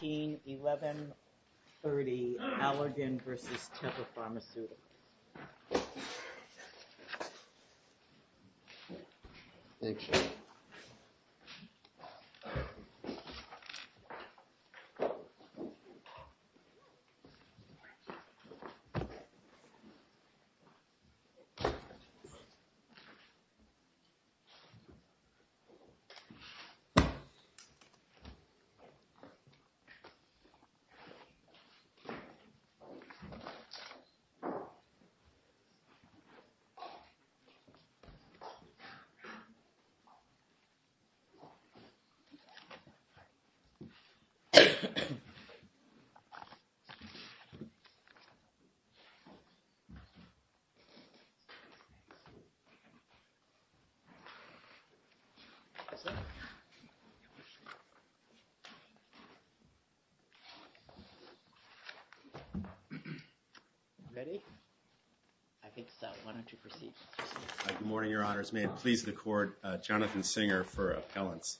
1130, Allergan v. Teva Pharmaceuticals. Allergan v. Teva Pharmaceuticals USA, Inc. Good morning, Your Honors. May it please the Court, Jonathan Singer for appellants.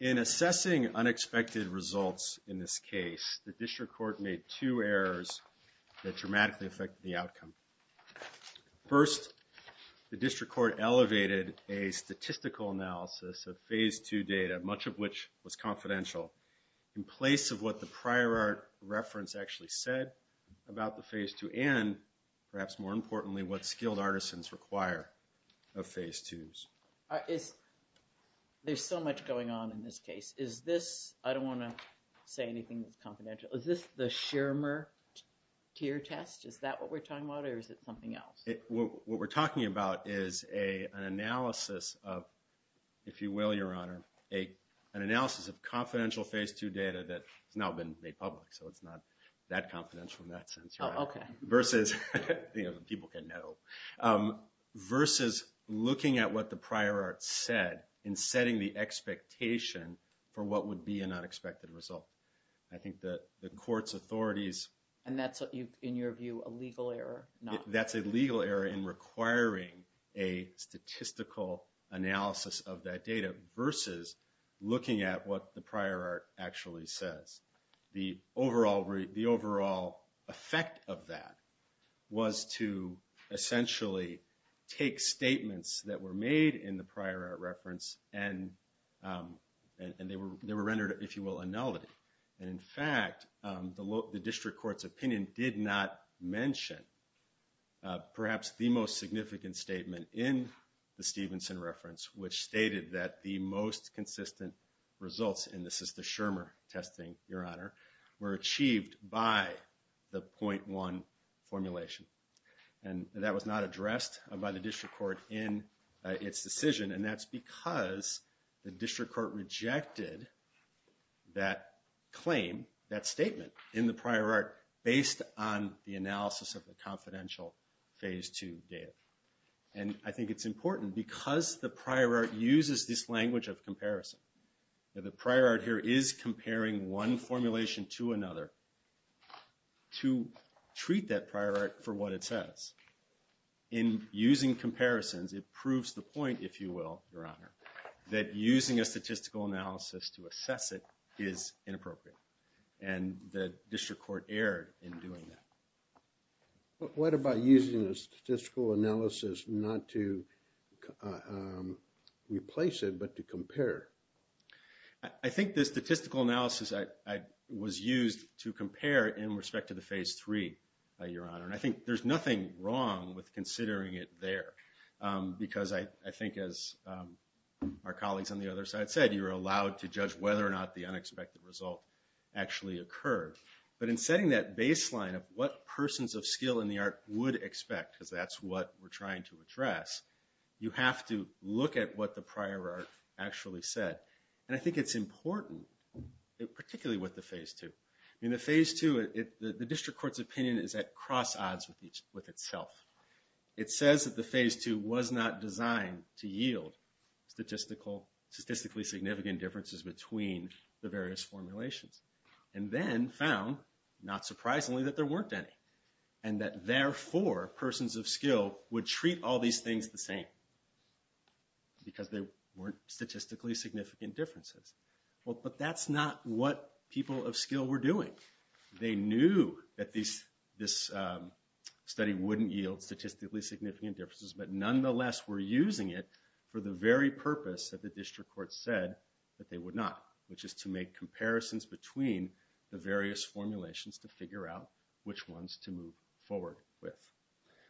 In assessing unexpected results in this case, the District Court made two errors that dramatically affected the outcome. First, the District Court elevated a statistical analysis of Phase II as confidential in place of what the prior reference actually said about the Phase II and, perhaps more importantly, what skilled artisans require of Phase IIs. There's so much going on in this case. Is this, I don't want to say anything that's confidential, is this the Shermer tier test? Is that what we're talking about or is it something else? What we're talking about is an analysis of, if you will, Your Honor, an analysis of confidential Phase II data that has now been made public, so it's not that confidential in that sense. Oh, okay. Versus, people can know, versus looking at what the prior art said and setting the expectation for what would be an unexpected result. I think that the Court's authorities And that's, in your view, a legal error? That's a legal error in requiring a statistical analysis of that data versus looking at what the prior art actually says. The overall effect of that was to essentially take statements that were made in the prior art reference and they were rendered, if you will, annulled. And in fact, the District Court's opinion did not mention perhaps the most significant statement in the Stevenson reference, which stated that the most consistent results in the Sister Shermer testing, Your Honor, were achieved by the .1 formulation. And that was not addressed by the District Court in its decision, and that's because the District Court rejected that claim, that statement, in the prior art based on the analysis of the confidential Phase II data. And I think it's important because the prior art uses this language of comparison. The prior art here is comparing one formulation to another to treat that prior art for what it says. In using comparisons, it proves the point, if you will, Your Honor, that using a statistical analysis to assess it is inappropriate. And the District Court erred in doing that. But what about using a statistical analysis not to replace it but to compare? I think the statistical analysis was used to compare in respect to the Phase III, Your Honor. And I think there's nothing wrong with considering it there. Because I think as our colleagues on the other side said, you're allowed to judge whether or not the unexpected result actually occurred. But in setting that baseline of what persons of skill in the art would expect, because that's what we're trying to address, you have to look at what the prior art actually said. And I think it's important, particularly with the Phase II. In the Phase II, the District Court's opinion is at cross-odds with itself. It says that the Phase II was not designed to yield statistically significant differences between the various formulations and then found, not surprisingly, that there weren't any. And that therefore, persons of skill would treat all these things the same because there weren't statistically significant differences. But that's not what people of skill were doing. They knew that this study wouldn't yield statistically significant differences, but nonetheless were using it for the very purpose that the District Court said that they would not, which is to make comparisons between the various formulations to figure out which ones to move forward with.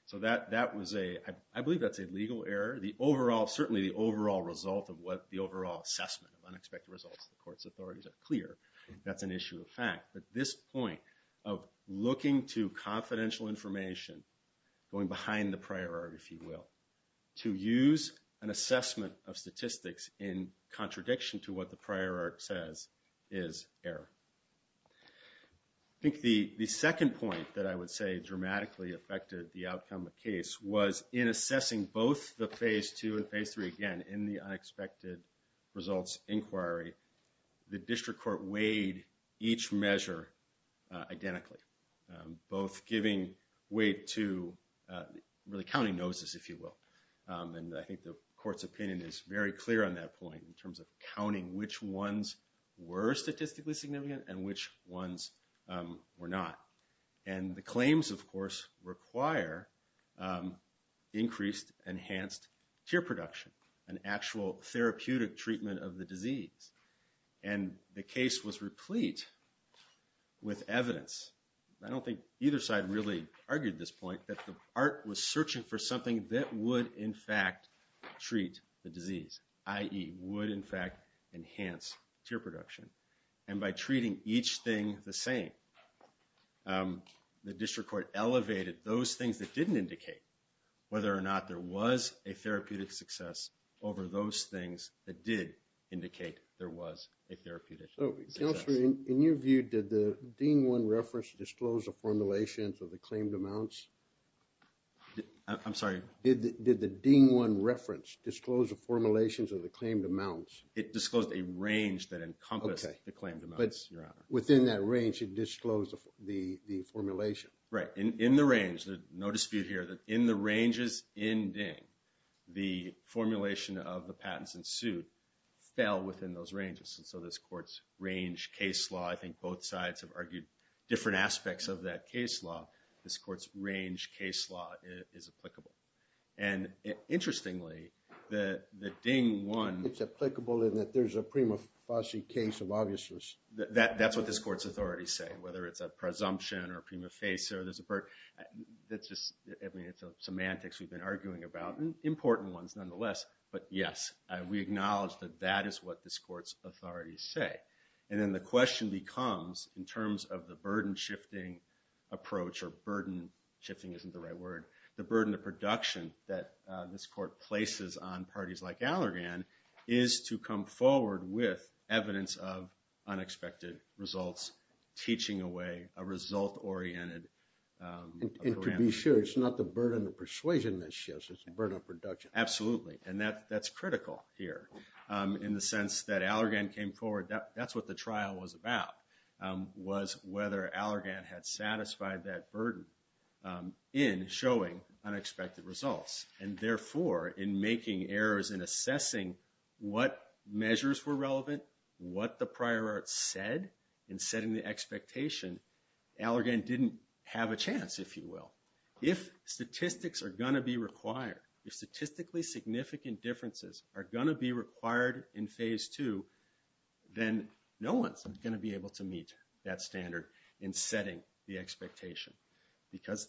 So I believe that's a legal error. Certainly the overall result of the overall assessment of unexpected results of the court's authorities are clear. That's an issue of fact. But this point of looking to confidential information, going behind the prior art, if you will, to use an assessment of statistics in contradiction to what the prior art says is error. I think the second point that I would say dramatically affected the outcome of the case was in assessing both the Phase 2 and Phase 3 again in the unexpected results inquiry, the District Court weighed each measure identically, both giving weight to really counting noses, if you will. And I think the court's opinion is very clear on that point in terms of counting which ones were statistically significant and which ones were not. And the claims, of course, require increased enhanced tear production, an actual therapeutic treatment of the disease. And the case was replete with evidence. I don't think either side really argued this point, that the art was searching for something that would in fact treat the disease, i.e. would in fact enhance tear production. And by treating each thing the same, the District Court elevated those things that didn't indicate whether or not there was a therapeutic success over those things that did indicate there was a therapeutic success. So, Counselor, in your view, did the Dean 1 reference disclose the formulations of the claimed amounts? I'm sorry? Did the Dean 1 reference disclose the formulations of the claimed amounts? It disclosed a range that encompassed the claimed amounts, Your Honor. But within that range, it disclosed the formulation. Right. In the range, there's no dispute here, that in the ranges in Ding, the formulation of the patents ensued fell within those ranges. And so this court's range case law, I think both sides have argued different aspects of that case law. This court's range case law is applicable. And interestingly, the Ding 1... It's applicable in that there's a prima facie case of obviousness. That's what this court's authorities say, whether it's a presumption or prima facie or there's a... I mean, it's semantics we've been arguing about, important ones nonetheless. But yes, we acknowledge that that is what this court's authorities say. And then the question becomes, in terms of the burden-shifting approach, or burden-shifting isn't the right word, the burden of production that this court places on parties like Allergan is to come forward with evidence of unexpected results, teaching away a result-oriented... And to be sure, it's not the burden of persuasion that shifts, it's the burden of production. Absolutely. And that's critical here, in the sense that Allergan came forward. That's what the trial was about, was whether Allergan had satisfied that burden in showing unexpected results. And therefore, in making errors in assessing what measures were relevant, what the prior art said, in setting the expectation, Allergan didn't have a chance, if you will. If statistics are going to be required, if statistically significant differences are going to be required in Phase 2, then no one's going to be able to meet that standard in setting the expectation. Because,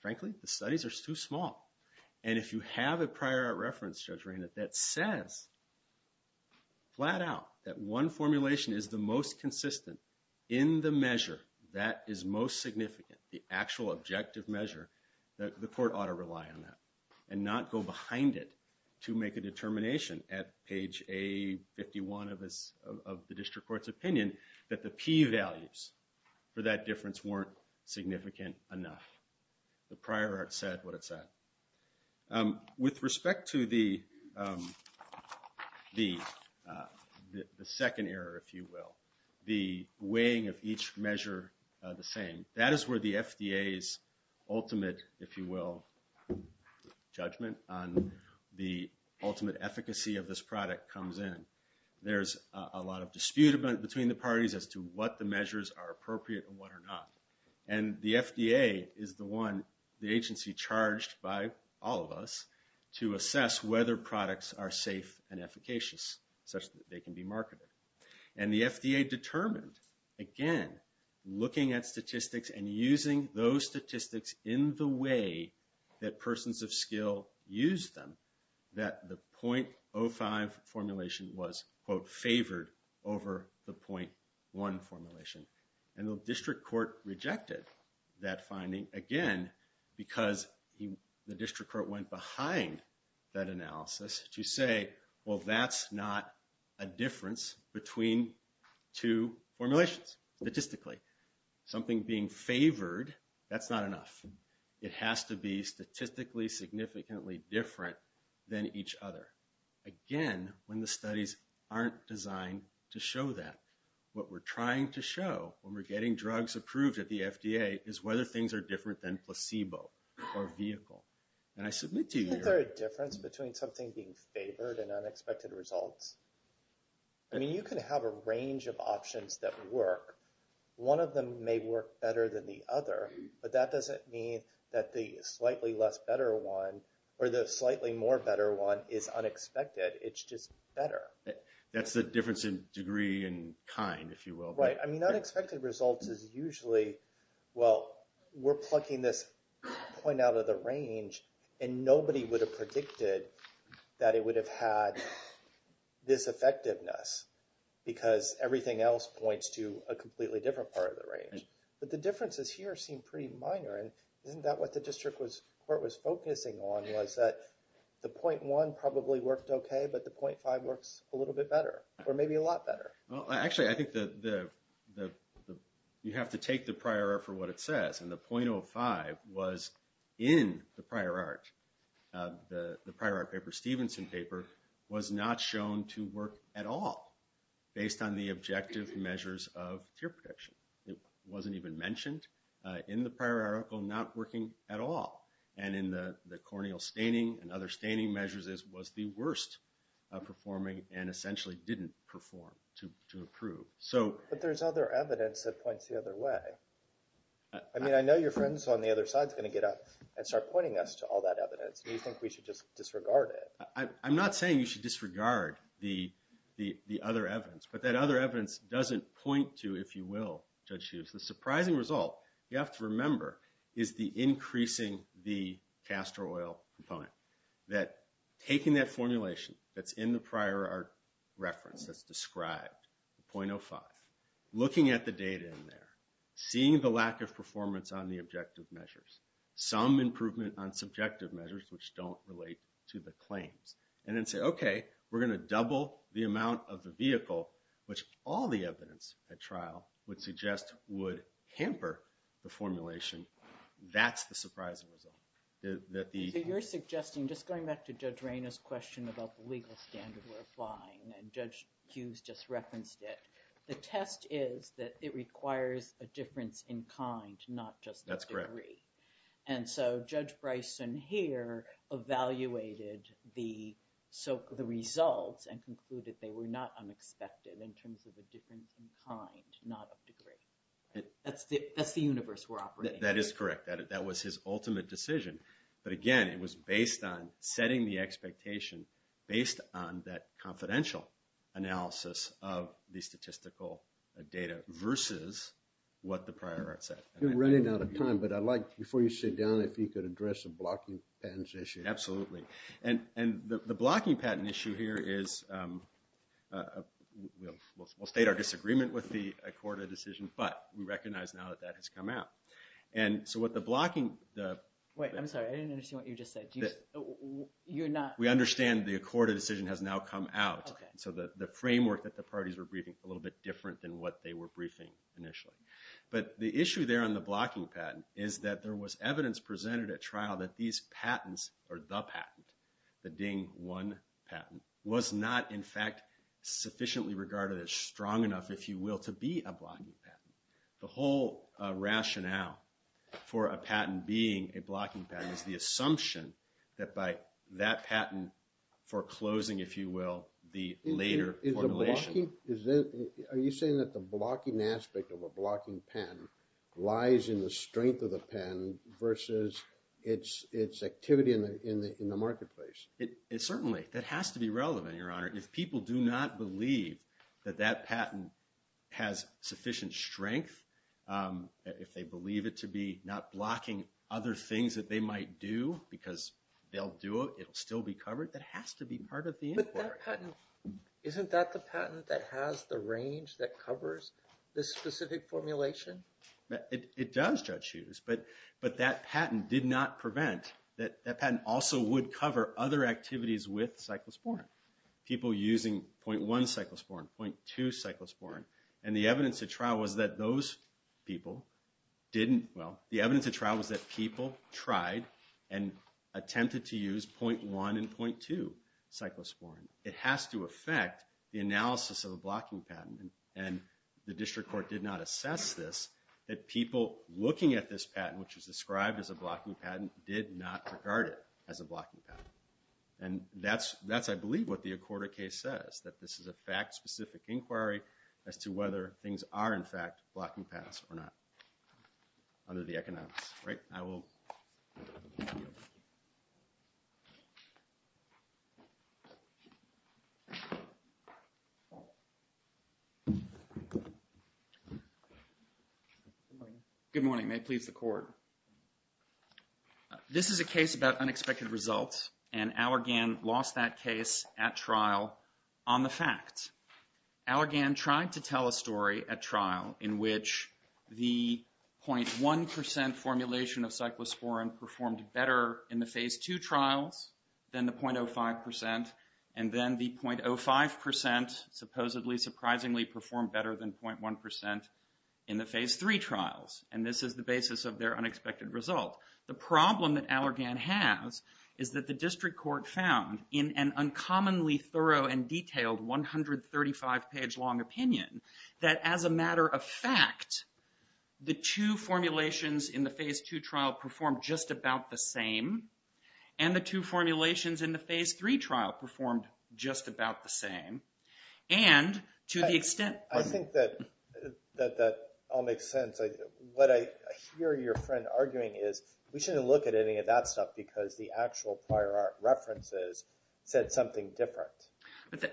frankly, the studies are too small. And if you have a prior art reference, Judge Reinert, that says, flat out, that one formulation is the most consistent in the measure that is most significant, the actual objective measure, the court ought to rely on that. And not go behind it to make a determination at page A51 of the district court's opinion, that the P values for that difference weren't significant enough. The prior art said what it said. With respect to the second error, if you will, the weighing of each measure the same, that is where the FDA's ultimate, if you will, judgment on the ultimate efficacy of this product comes in. There's a lot of dispute between the parties as to what the measures are appropriate and what are not. And the FDA is the agency charged by all of us to assess whether products are safe and efficacious, such that they can be marketed. And the FDA determined, again, looking at statistics and using those statistics in the way that persons of skill used them, that the .05 formulation was, quote, favored over the .1 formulation. And the district court rejected that finding, again, because the district court went behind that analysis to say, well, that's not a difference between two formulations, statistically. Something being favored, that's not enough. It has to be statistically significantly different than each other. Again, when the studies aren't designed to show that. What we're trying to show when we're getting drugs approved at the FDA is whether things are different than placebo or vehicle. And I submit to you... Isn't there a difference between something being favored and unexpected results? I mean, you can have a range of options that work. One of them may work better than the other, but that doesn't mean that the slightly less better one or the slightly more better one is unexpected. It's just better. That's the difference in degree and kind, if you will. Right. I mean, unexpected results is usually, well, we're plucking this point out of the range, and nobody would have predicted that it would have had this effectiveness, because everything else points to a completely different part of the range. But the differences here seem pretty minor. And isn't that what the district court was focusing on, was that the .1 probably worked okay, but the .5 works a little bit better, or maybe a lot better? Well, actually, I think you have to take the prior art for what it says. And the .05 was in the prior art. The prior art paper, Stevenson paper, was not shown to work at all based on the objective measures of tear protection. It wasn't even mentioned in the prior article not working at all. And in the corneal staining and other staining measures, it was the worst performing and essentially didn't perform to improve. But there's other evidence that points the other way. I mean, I know your friend on the other side is going to get up and start pointing us to all that evidence. Do you think we should just disregard it? I'm not saying you should disregard the other evidence. But that other evidence doesn't point to, if you will, Judge Hughes, the surprising result. You have to remember is the increasing the castor oil component, that taking that formulation that's in the prior art reference that's described, the .05, looking at the data in there, seeing the lack of performance on the objective measures, some improvement on subjective measures which don't relate to the claims, and then say, okay, we're going to double the amount of the vehicle, which all the evidence at trial would suggest would hamper the formulation, that's the surprising result. So you're suggesting, just going back to Judge Raynor's question about the legal standard we're applying, and Judge Hughes just referenced it, the test is that it requires a difference in kind, not just a degree. That's correct. And so Judge Bryson here evaluated the results and concluded they were not unexpected in terms of a difference in kind, not a degree. That's the universe we're operating in. That is correct. That was his ultimate decision. But again, it was based on setting the expectation, based on that confidential analysis of the statistical data versus what the prior art said. You're running out of time, but I'd like, before you sit down, if you could address the blocking patents issue. Absolutely. And the blocking patent issue here is, we'll state our disagreement with the Accorda decision, but we recognize now that that has come out. And so what the blocking... Wait, I'm sorry, I didn't understand what you just said. You're not... We understand the Accorda decision has now come out. Okay. So the framework that the parties were briefing, a little bit different than what they were briefing initially. But the issue there on the blocking patent is that there was evidence presented at trial that these patents, or the patent, the DING-1 patent, was not, in fact, sufficiently regarded as strong enough, if you will, to be a blocking patent. The whole rationale for a patent being a blocking patent is the assumption that by that patent foreclosing, if you will, the later formulation. Are you saying that the blocking aspect of a blocking patent lies in the strength of the patent versus its activity in the marketplace? Certainly. That has to be relevant, Your Honor. If people do not believe that that patent has sufficient strength, if they believe it to be not blocking other things that they might do, because they'll do it, it'll still be covered, that has to be part of the inquiry. Isn't that the patent that has the range that covers this specific formulation? It does, Judge Hughes, but that patent did not prevent, that patent also would cover other activities with cyclosporine. People using 0.1 cyclosporine, 0.2 cyclosporine. And the evidence at trial was that those people didn't, well, the evidence at trial was that people tried and attempted to use 0.1 and 0.2 cyclosporine. It has to affect the analysis of a blocking patent, and the district court did not assess this, that people looking at this patent, which is described as a blocking patent, did not regard it as a blocking patent. And that's, I believe, what the Accorda case says, that this is a fact-specific inquiry as to whether things are, in fact, blocking patents or not, under the economics. Right? I will... Good morning. May it please the Court. This is a case about unexpected results, and Allergan lost that case at trial on the fact. Allergan tried to tell a story at trial in which the 0.1% formulation of cyclosporine performed better in the Phase II trials than the 0.05%, and then the 0.05% supposedly, surprisingly, performed better than 0.1% in the Phase III trials. And this is the basis of their unexpected result. The problem that Allergan has is that the district court found, in an uncommonly thorough and detailed 135-page-long opinion, that as a matter of fact, the two formulations in the Phase II trial performed just about the same, and the two formulations in the Phase III trial performed just about the same. And, to the extent... I think that that all makes sense. What I hear your friend arguing is, we shouldn't look at any of that stuff because the actual prior references said something different.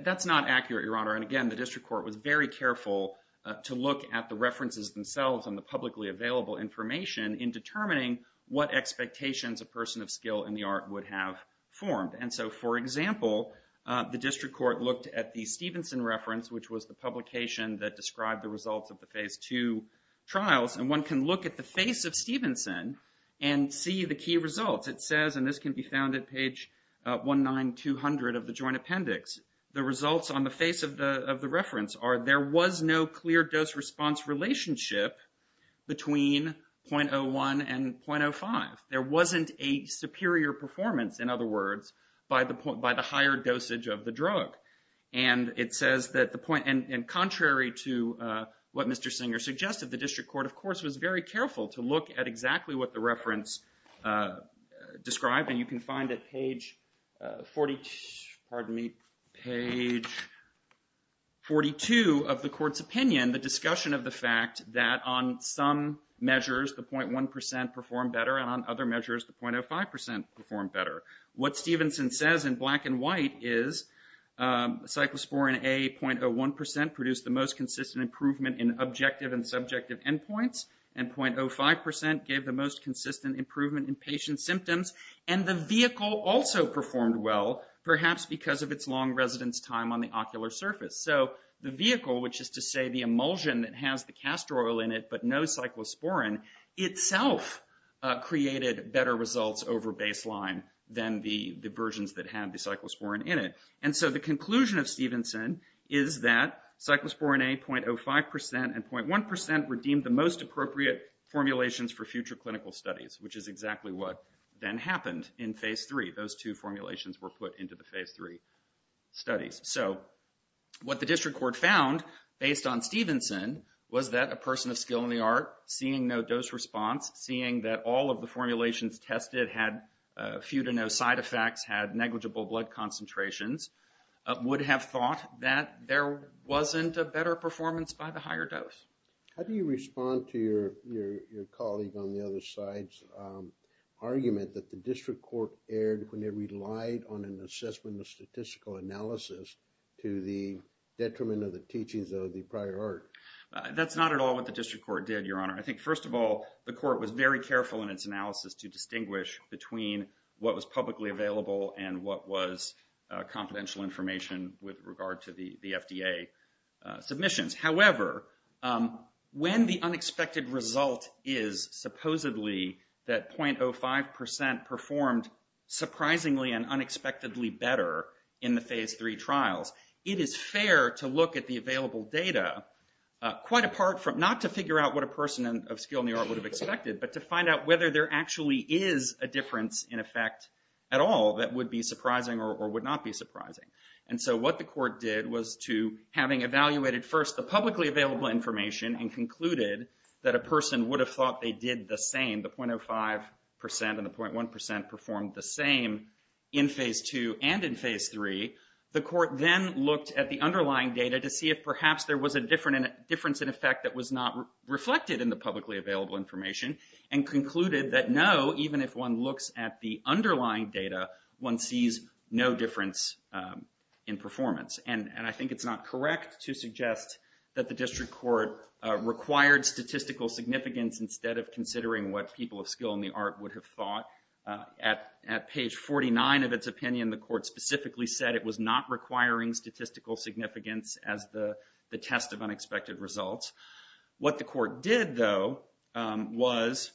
That's not accurate, Your Honor. And, again, the district court was very careful to look at the references themselves and the publicly available information in determining what expectations a person of skill in the art would have formed. And so, for example, the district court looked at the Stevenson reference, which was the publication that described the results of the Phase II trials, and one can look at the face of Stevenson and see the key results. It says, and this can be found at page 19200 of the Joint Appendix, that the results on the face of the reference are there was no clear dose-response relationship between .01 and .05. There wasn't a superior performance, in other words, by the higher dosage of the drug. And it says that the point... And contrary to what Mr. Singer suggested, the district court, of course, was very careful to look at exactly what the reference described, and you can find at page 42 of the court's opinion the discussion of the fact that on some measures the .1 percent performed better and on other measures the .05 percent performed better. What Stevenson says in black and white is cyclosporine A .01 percent produced the most consistent improvement in objective and subjective endpoints, and .05 percent gave the most consistent improvement in patient symptoms. And the vehicle also performed well, perhaps because of its long residence time on the ocular surface. So the vehicle, which is to say the emulsion that has the castor oil in it but no cyclosporine, itself created better results over baseline than the versions that have the cyclosporine in it. And so the conclusion of Stevenson is that cyclosporine A .05 percent and .1 percent were deemed the most appropriate formulations for future clinical studies, which is exactly what then happened in Phase 3. Those two formulations were put into the Phase 3 studies. So what the district court found, based on Stevenson, was that a person of skill in the art, seeing no dose response, seeing that all of the formulations tested had few to no side effects, had negligible blood concentrations, would have thought that there wasn't a better performance by the higher dose. How do you respond to your colleague on the other side's argument that the district court erred when it relied on an assessment of statistical analysis to the detriment of the teachings of the prior art? That's not at all what the district court did, Your Honor. I think, first of all, the court was very careful in its analysis to distinguish between what was publicly available and what was confidential information with regard to the FDA submissions. However, when the unexpected result is supposedly that .05% performed surprisingly and unexpectedly better in the Phase 3 trials, it is fair to look at the available data quite apart from, not to figure out what a person of skill in the art would have expected, but to find out whether there actually is a difference in effect at all that would be surprising or would not be surprising. And so what the court did was to, having evaluated first the publicly available information and concluded that a person would have thought they did the same, the .05% and the .1% performed the same in Phase 2 and in Phase 3, the court then looked at the underlying data to see if perhaps there was a difference in effect that was not reflected in the publicly available information and concluded that no, even if one looks at the underlying data, one sees no difference in performance. And I think it's not correct to suggest that the district court required statistical significance instead of considering what people of skill in the art would have thought. At page 49 of its opinion, the court specifically said it was not requiring statistical significance as the test of unexpected results. What the court did, though, was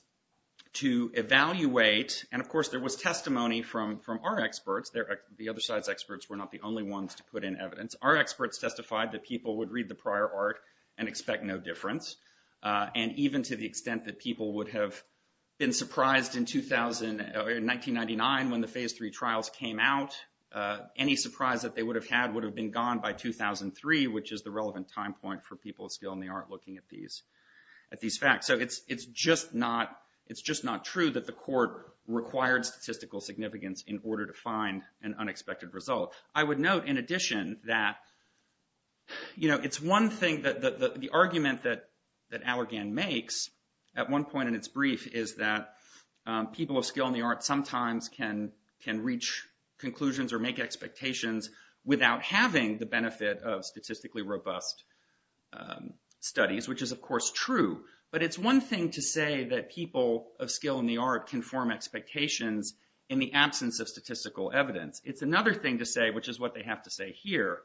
to evaluate, and of course there was testimony from our experts, the other side's experts were not the only ones to put in evidence. Our experts testified that people would read the prior art and expect no difference. And even to the extent that people would have been surprised in 1999 when the Phase 3 trials came out, any surprise that they would have had would have been gone by 2003, which is the relevant time point for people of skill in the art looking at these facts. So it's just not true that the court required statistical significance in order to find an unexpected result. I would note, in addition, that it's one thing that the argument that Allergan makes, at one point in its brief, is that people of skill in the art sometimes can reach conclusions or make expectations without having the benefit of statistically robust studies, which is, of course, true. But it's one thing to say that people of skill in the art can form expectations in the absence of statistical evidence. It's another thing to say, which is what they have to say here,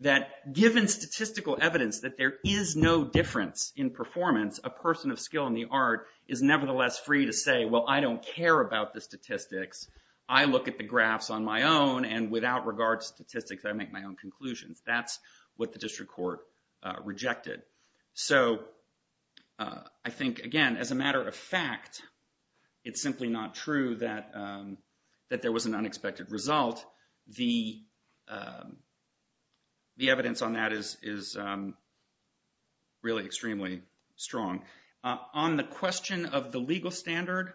that given statistical evidence that there is no difference in performance, a person of skill in the art is nevertheless free to say, well, I don't care about the statistics. I look at the graphs on my own, and without regard to statistics, I make my own conclusions. That's what the district court rejected. So I think, again, as a matter of fact, it's simply not true that there was an unexpected result. The evidence on that is really extremely strong. On the question of the legal standard,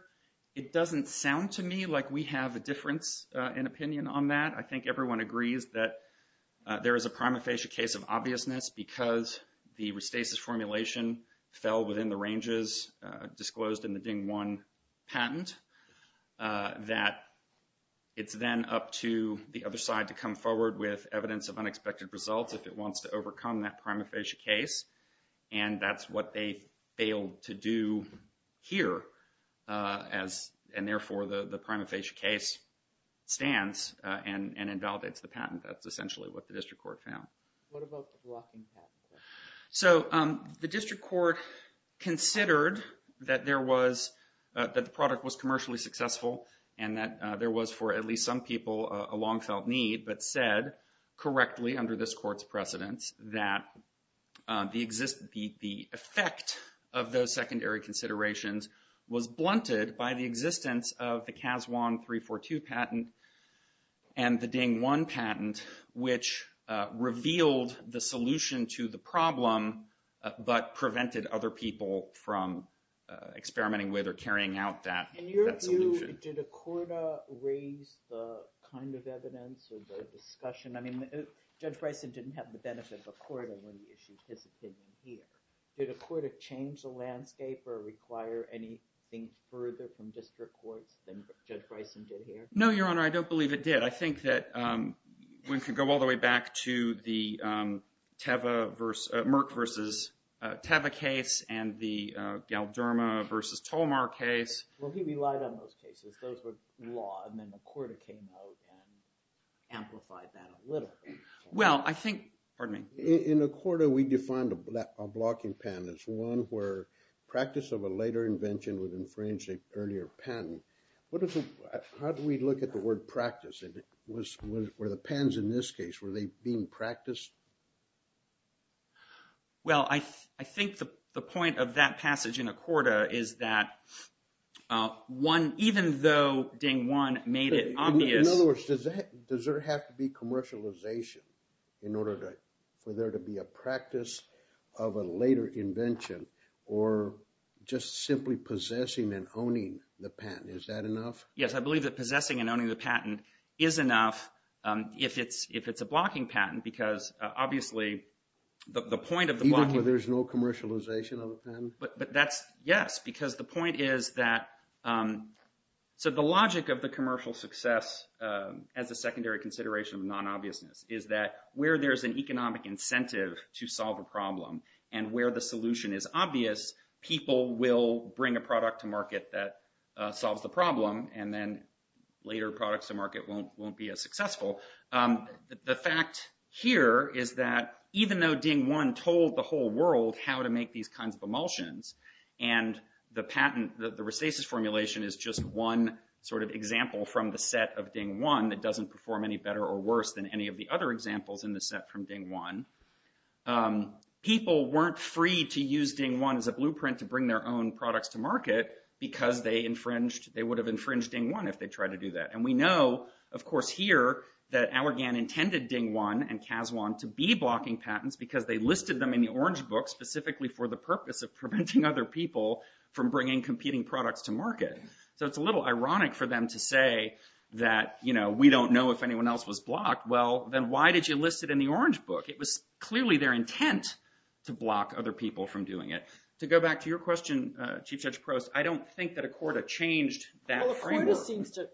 it doesn't sound to me like we have a difference in opinion on that. I think everyone agrees that there is a prima facie case of obviousness because the Restasis formulation fell within the ranges disclosed in the Ding-1 patent, that it's then up to the other side to come forward with evidence of unexpected results if it wants to overcome that prima facie case. And that's what they failed to do here. And therefore, the prima facie case stands and invalidates the patent. That's essentially what the district court found. What about the blocking patent? So the district court considered that there was, that the product was commercially successful and that there was, for at least some people, a long-felt need, but said correctly under this court's precedence that the effect of those secondary considerations was blunted by the existence of the Cas1-342 patent and the Ding-1 patent, which revealed the solution to the problem but prevented other people from experimenting with or carrying out that solution. In your view, did Accorda raise the kind of evidence or the discussion? I mean, Judge Bryson didn't have the benefit of Accorda when he issued his opinion here. Did Accorda change the landscape or require anything further from district courts than Judge Bryson did here? No, Your Honor, I don't believe it did. I think that we could go all the way back to the Merck versus Teva case and the Galderma versus Tolmar case. Well, he relied on those cases. Those were law, and then Accorda came out and amplified that a little. Well, I think, pardon me. In Accorda, we defined a blocking patent as one where practice of a later invention would infringe an earlier patent. How do we look at the word practice? Were the patents in this case, were they being practiced? Well, I think the point of that passage in Accorda is that even though Ding One made it obvious... In other words, does there have to be commercialization in order for there to be a practice of a later invention or just simply possessing and owning the patent? Is that enough? Yes, I believe that possessing and owning the patent is enough if it's a blocking patent because obviously the point of the blocking... Even where there's no commercialization of the patent? Yes, because the point is that... So the logic of the commercial success as a secondary consideration of non-obviousness is that where there's an economic incentive to solve a problem and where the solution is obvious, people will bring a product to market that solves the problem, and then later products to market won't be as successful. The fact here is that even though Ding One told the whole world how to make these kinds of emulsions and the patent, the Resthesis formulation, is just one sort of example from the set of Ding One that doesn't perform any better or worse than any of the other examples in the set from Ding One, people weren't free to use Ding One as a blueprint to bring their own products to market because they infringed... They would have infringed Ding One if they tried to do that. And we know, of course, here, that Allergan intended Ding One and Cas1 to be blocking patents because they listed them in the Orange Book specifically for the purpose of preventing other people from bringing competing products to market. So it's a little ironic for them to say that, you know, we don't know if anyone else was blocked. Well, then why did you list it in the Orange Book? It was clearly their intent to block other people from doing it. To go back to your question, Chief Judge Prost, I don't think that Accorda changed that framework. Well, Accorda seems to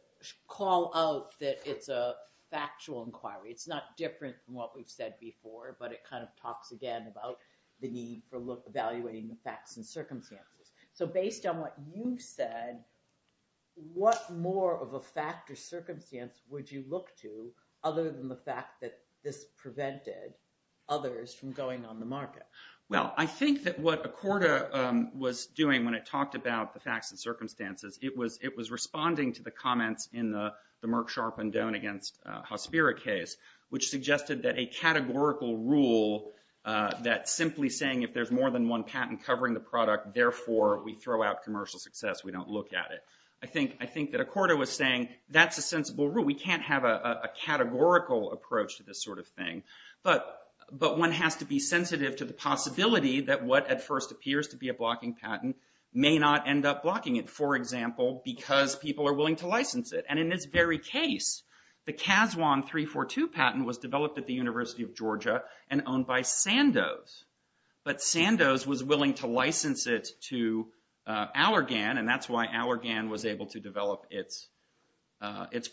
call out that it's a factual inquiry. It's not different from what we've said before, but it kind of talks again about the need for evaluating the facts and circumstances. So based on what you've said, what more of a fact or circumstance would you look to other than the fact that this prevented others from going on the market? Well, I think that what Accorda was doing when it talked about the facts and circumstances, it was responding to the comments in the Merck, Sharpe, and Doan against Hospira case, which suggested that a categorical rule that simply saying if there's more than one patent covering the product, therefore, we throw out commercial success, we don't look at it. I think that Accorda was saying that's a sensible rule. We can't have a categorical approach to this sort of thing, but one has to be sensitive to the possibility that what at first appears to be a blocking patent may not end up blocking it, for example, because people are willing to license it. And in this very case, the Cas1 342 patent was developed at the University of Georgia and owned by Sandoz, but Sandoz was willing to license it to Allergan, and that's why Allergan was able to develop its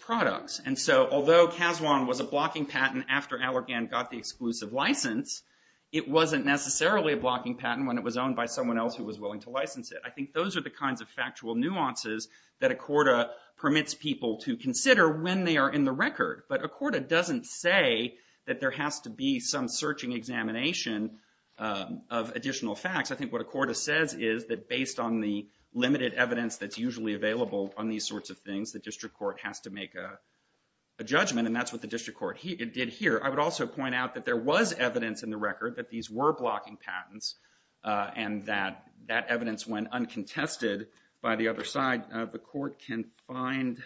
products. And so although Cas1 was a blocking patent after Allergan got the exclusive license, it wasn't necessarily a blocking patent when it was owned by someone else who was willing to license it. I think those are the kinds of factual nuances that Accorda permits people to consider when they are in the record, but Accorda doesn't say that there has to be some searching examination of additional facts. I think what Accorda says is that based on the limited evidence that's usually available on these sorts of things, the district court has to make a judgment, and that's what the district court did here. I would also point out that there was evidence in the record that these were blocking patents and that that evidence went uncontested by the other side. The court can find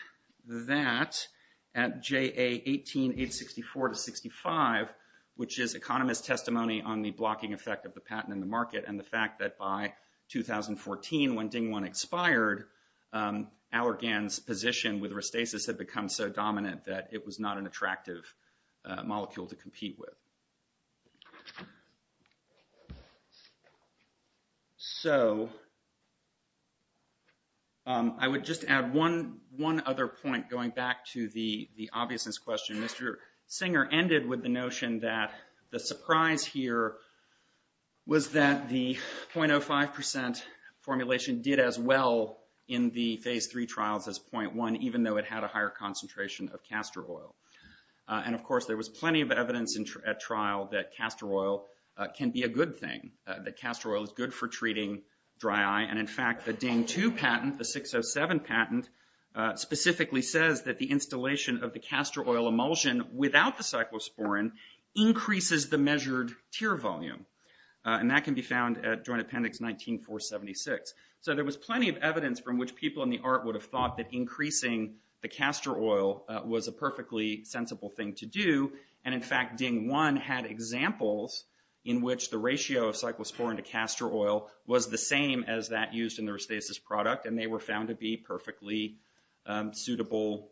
that at JA 18-864-65, which is economist's testimony on the blocking effect of the patent in the market and the fact that by 2014, when DING-1 expired, Allergan's position with Restasis had become so dominant that it was not an attractive molecule to compete with. So, I would just add one other point going back to the obviousness question. Mr. Singer ended with the notion that the surprise here was that the 0.05% formulation did as well in the phase three trials as 0.1 even though it had a higher concentration of castor oil. And of course, there was plenty of evidence at trial that castor oil can be a good thing, that castor oil is good for treating dry eye, and in fact, the DING-2 patent, the 607 patent, specifically says that the installation of the castor oil emulsion without the cyclosporine increases the measured tear volume, and that can be found at Joint Appendix 19-476. So, there was plenty of evidence from which people in the art would have thought that increasing the castor oil was a perfectly sensible thing to do, and in fact, DING-1 had examples in which the ratio of cyclosporine to castor oil was the same as that used in the Restasis product, and they were found to be perfectly suitable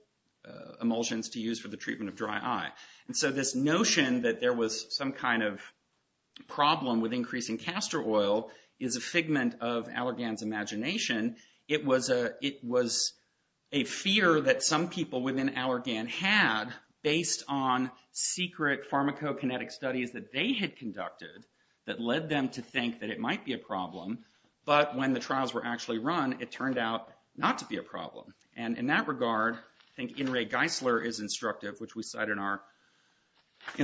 emulsions to use for the treatment of dry eye. And so, this notion that there was some kind of problem with increasing castor oil is a figment of Allergan's imagination. It was a fear that some people within Allergan had based on secret pharmacokinetic studies that they had conducted that led them to think that it might be a problem, but when the trials were actually run, it turned out not to be a problem. And in that regard, I think In re Geisler is instructive, which we cite in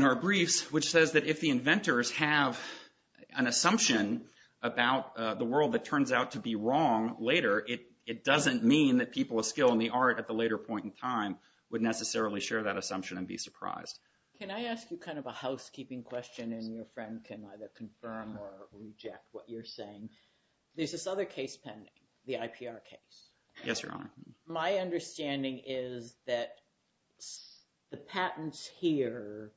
our briefs, which says that if the inventors have an assumption about the world that turns out to be wrong later, it doesn't mean that people with skill in the art at the later point in time would necessarily share that assumption and be surprised. Can I ask you kind of a housekeeping question, and your friend can either confirm or reject what you're saying. There's this other case pending, the IPR case. Yes, Your Honor. My understanding is that the patents here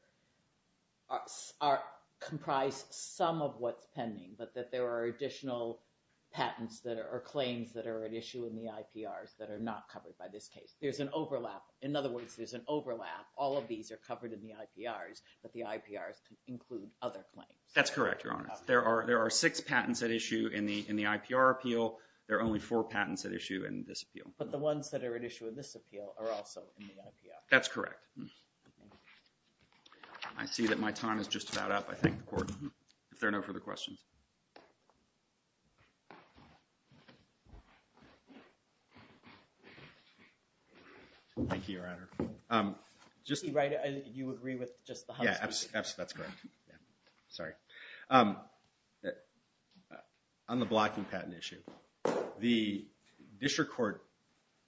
are comprised some of what's pending, but that there are additional patents or claims that are at issue in the IPRs that are not covered by this case. There's an overlap. In other words, there's an overlap. All of these are covered in the IPRs, but the IPRs include other claims. That's correct, Your Honor. There are six patents at issue in the IPR appeal. There are only four patents at issue in this appeal. But the ones that are at issue in this appeal are also in the IPR. That's correct. I see that my time is just about up. I thank the court. If there are no further questions. Thank you, Your Honor. You agree with just the house? Yeah, that's correct. Sorry. On the blocking patent issue, the district court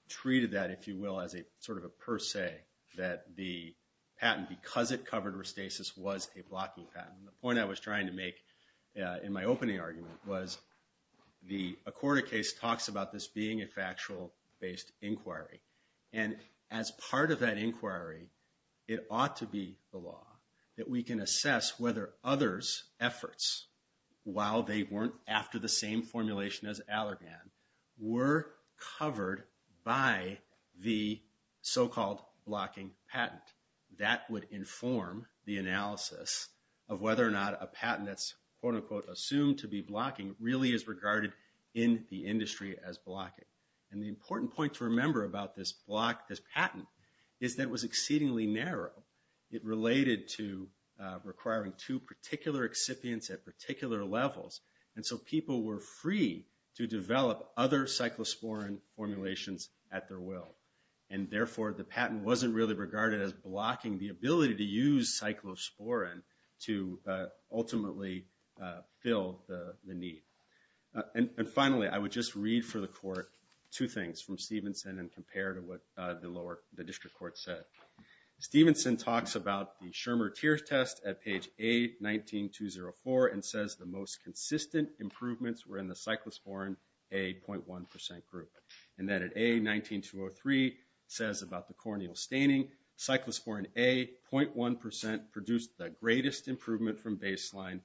treated that, if you will, as sort of a per se that the patent, because it covered restasis, was a blocking patent. The point I was trying to make in my opening argument was the Accorda case talks about this being a factual-based inquiry. And as part of that inquiry, it ought to be the law that we can assess whether others' efforts, while they weren't after the same formulation as Allergan, were covered by the so-called blocking patent. That would inform the analysis of whether or not a patent that's, quote unquote, assumed to be blocking really is regarded in the industry as blocking. And the important point to remember about this patent is that it was exceedingly narrow. It related to requiring two particular excipients at particular levels. And so people were free to develop other cyclosporine formulations at their will. And therefore, the patent wasn't really regarded as blocking the ability to use cyclosporine to ultimately fill the need. And finally, I would just read for the court two things from Stevenson and compare to what the district court said. Stevenson talks about the Schirmer tier test at page A, 19.204, and says the most consistent improvements were in the cyclosporine A 0.1% group. And that at A, 19.203, says about the corneal staining, cyclosporine A 0.1% produced the greatest improvement from baseline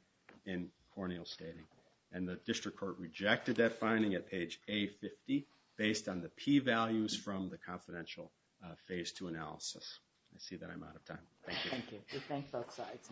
in corneal staining. And the district court rejected that finding at page A, 50, based on the P values from the confidential phase 2 analysis. I see that I'm out of time. Thank you. Thank you. We thank both sides.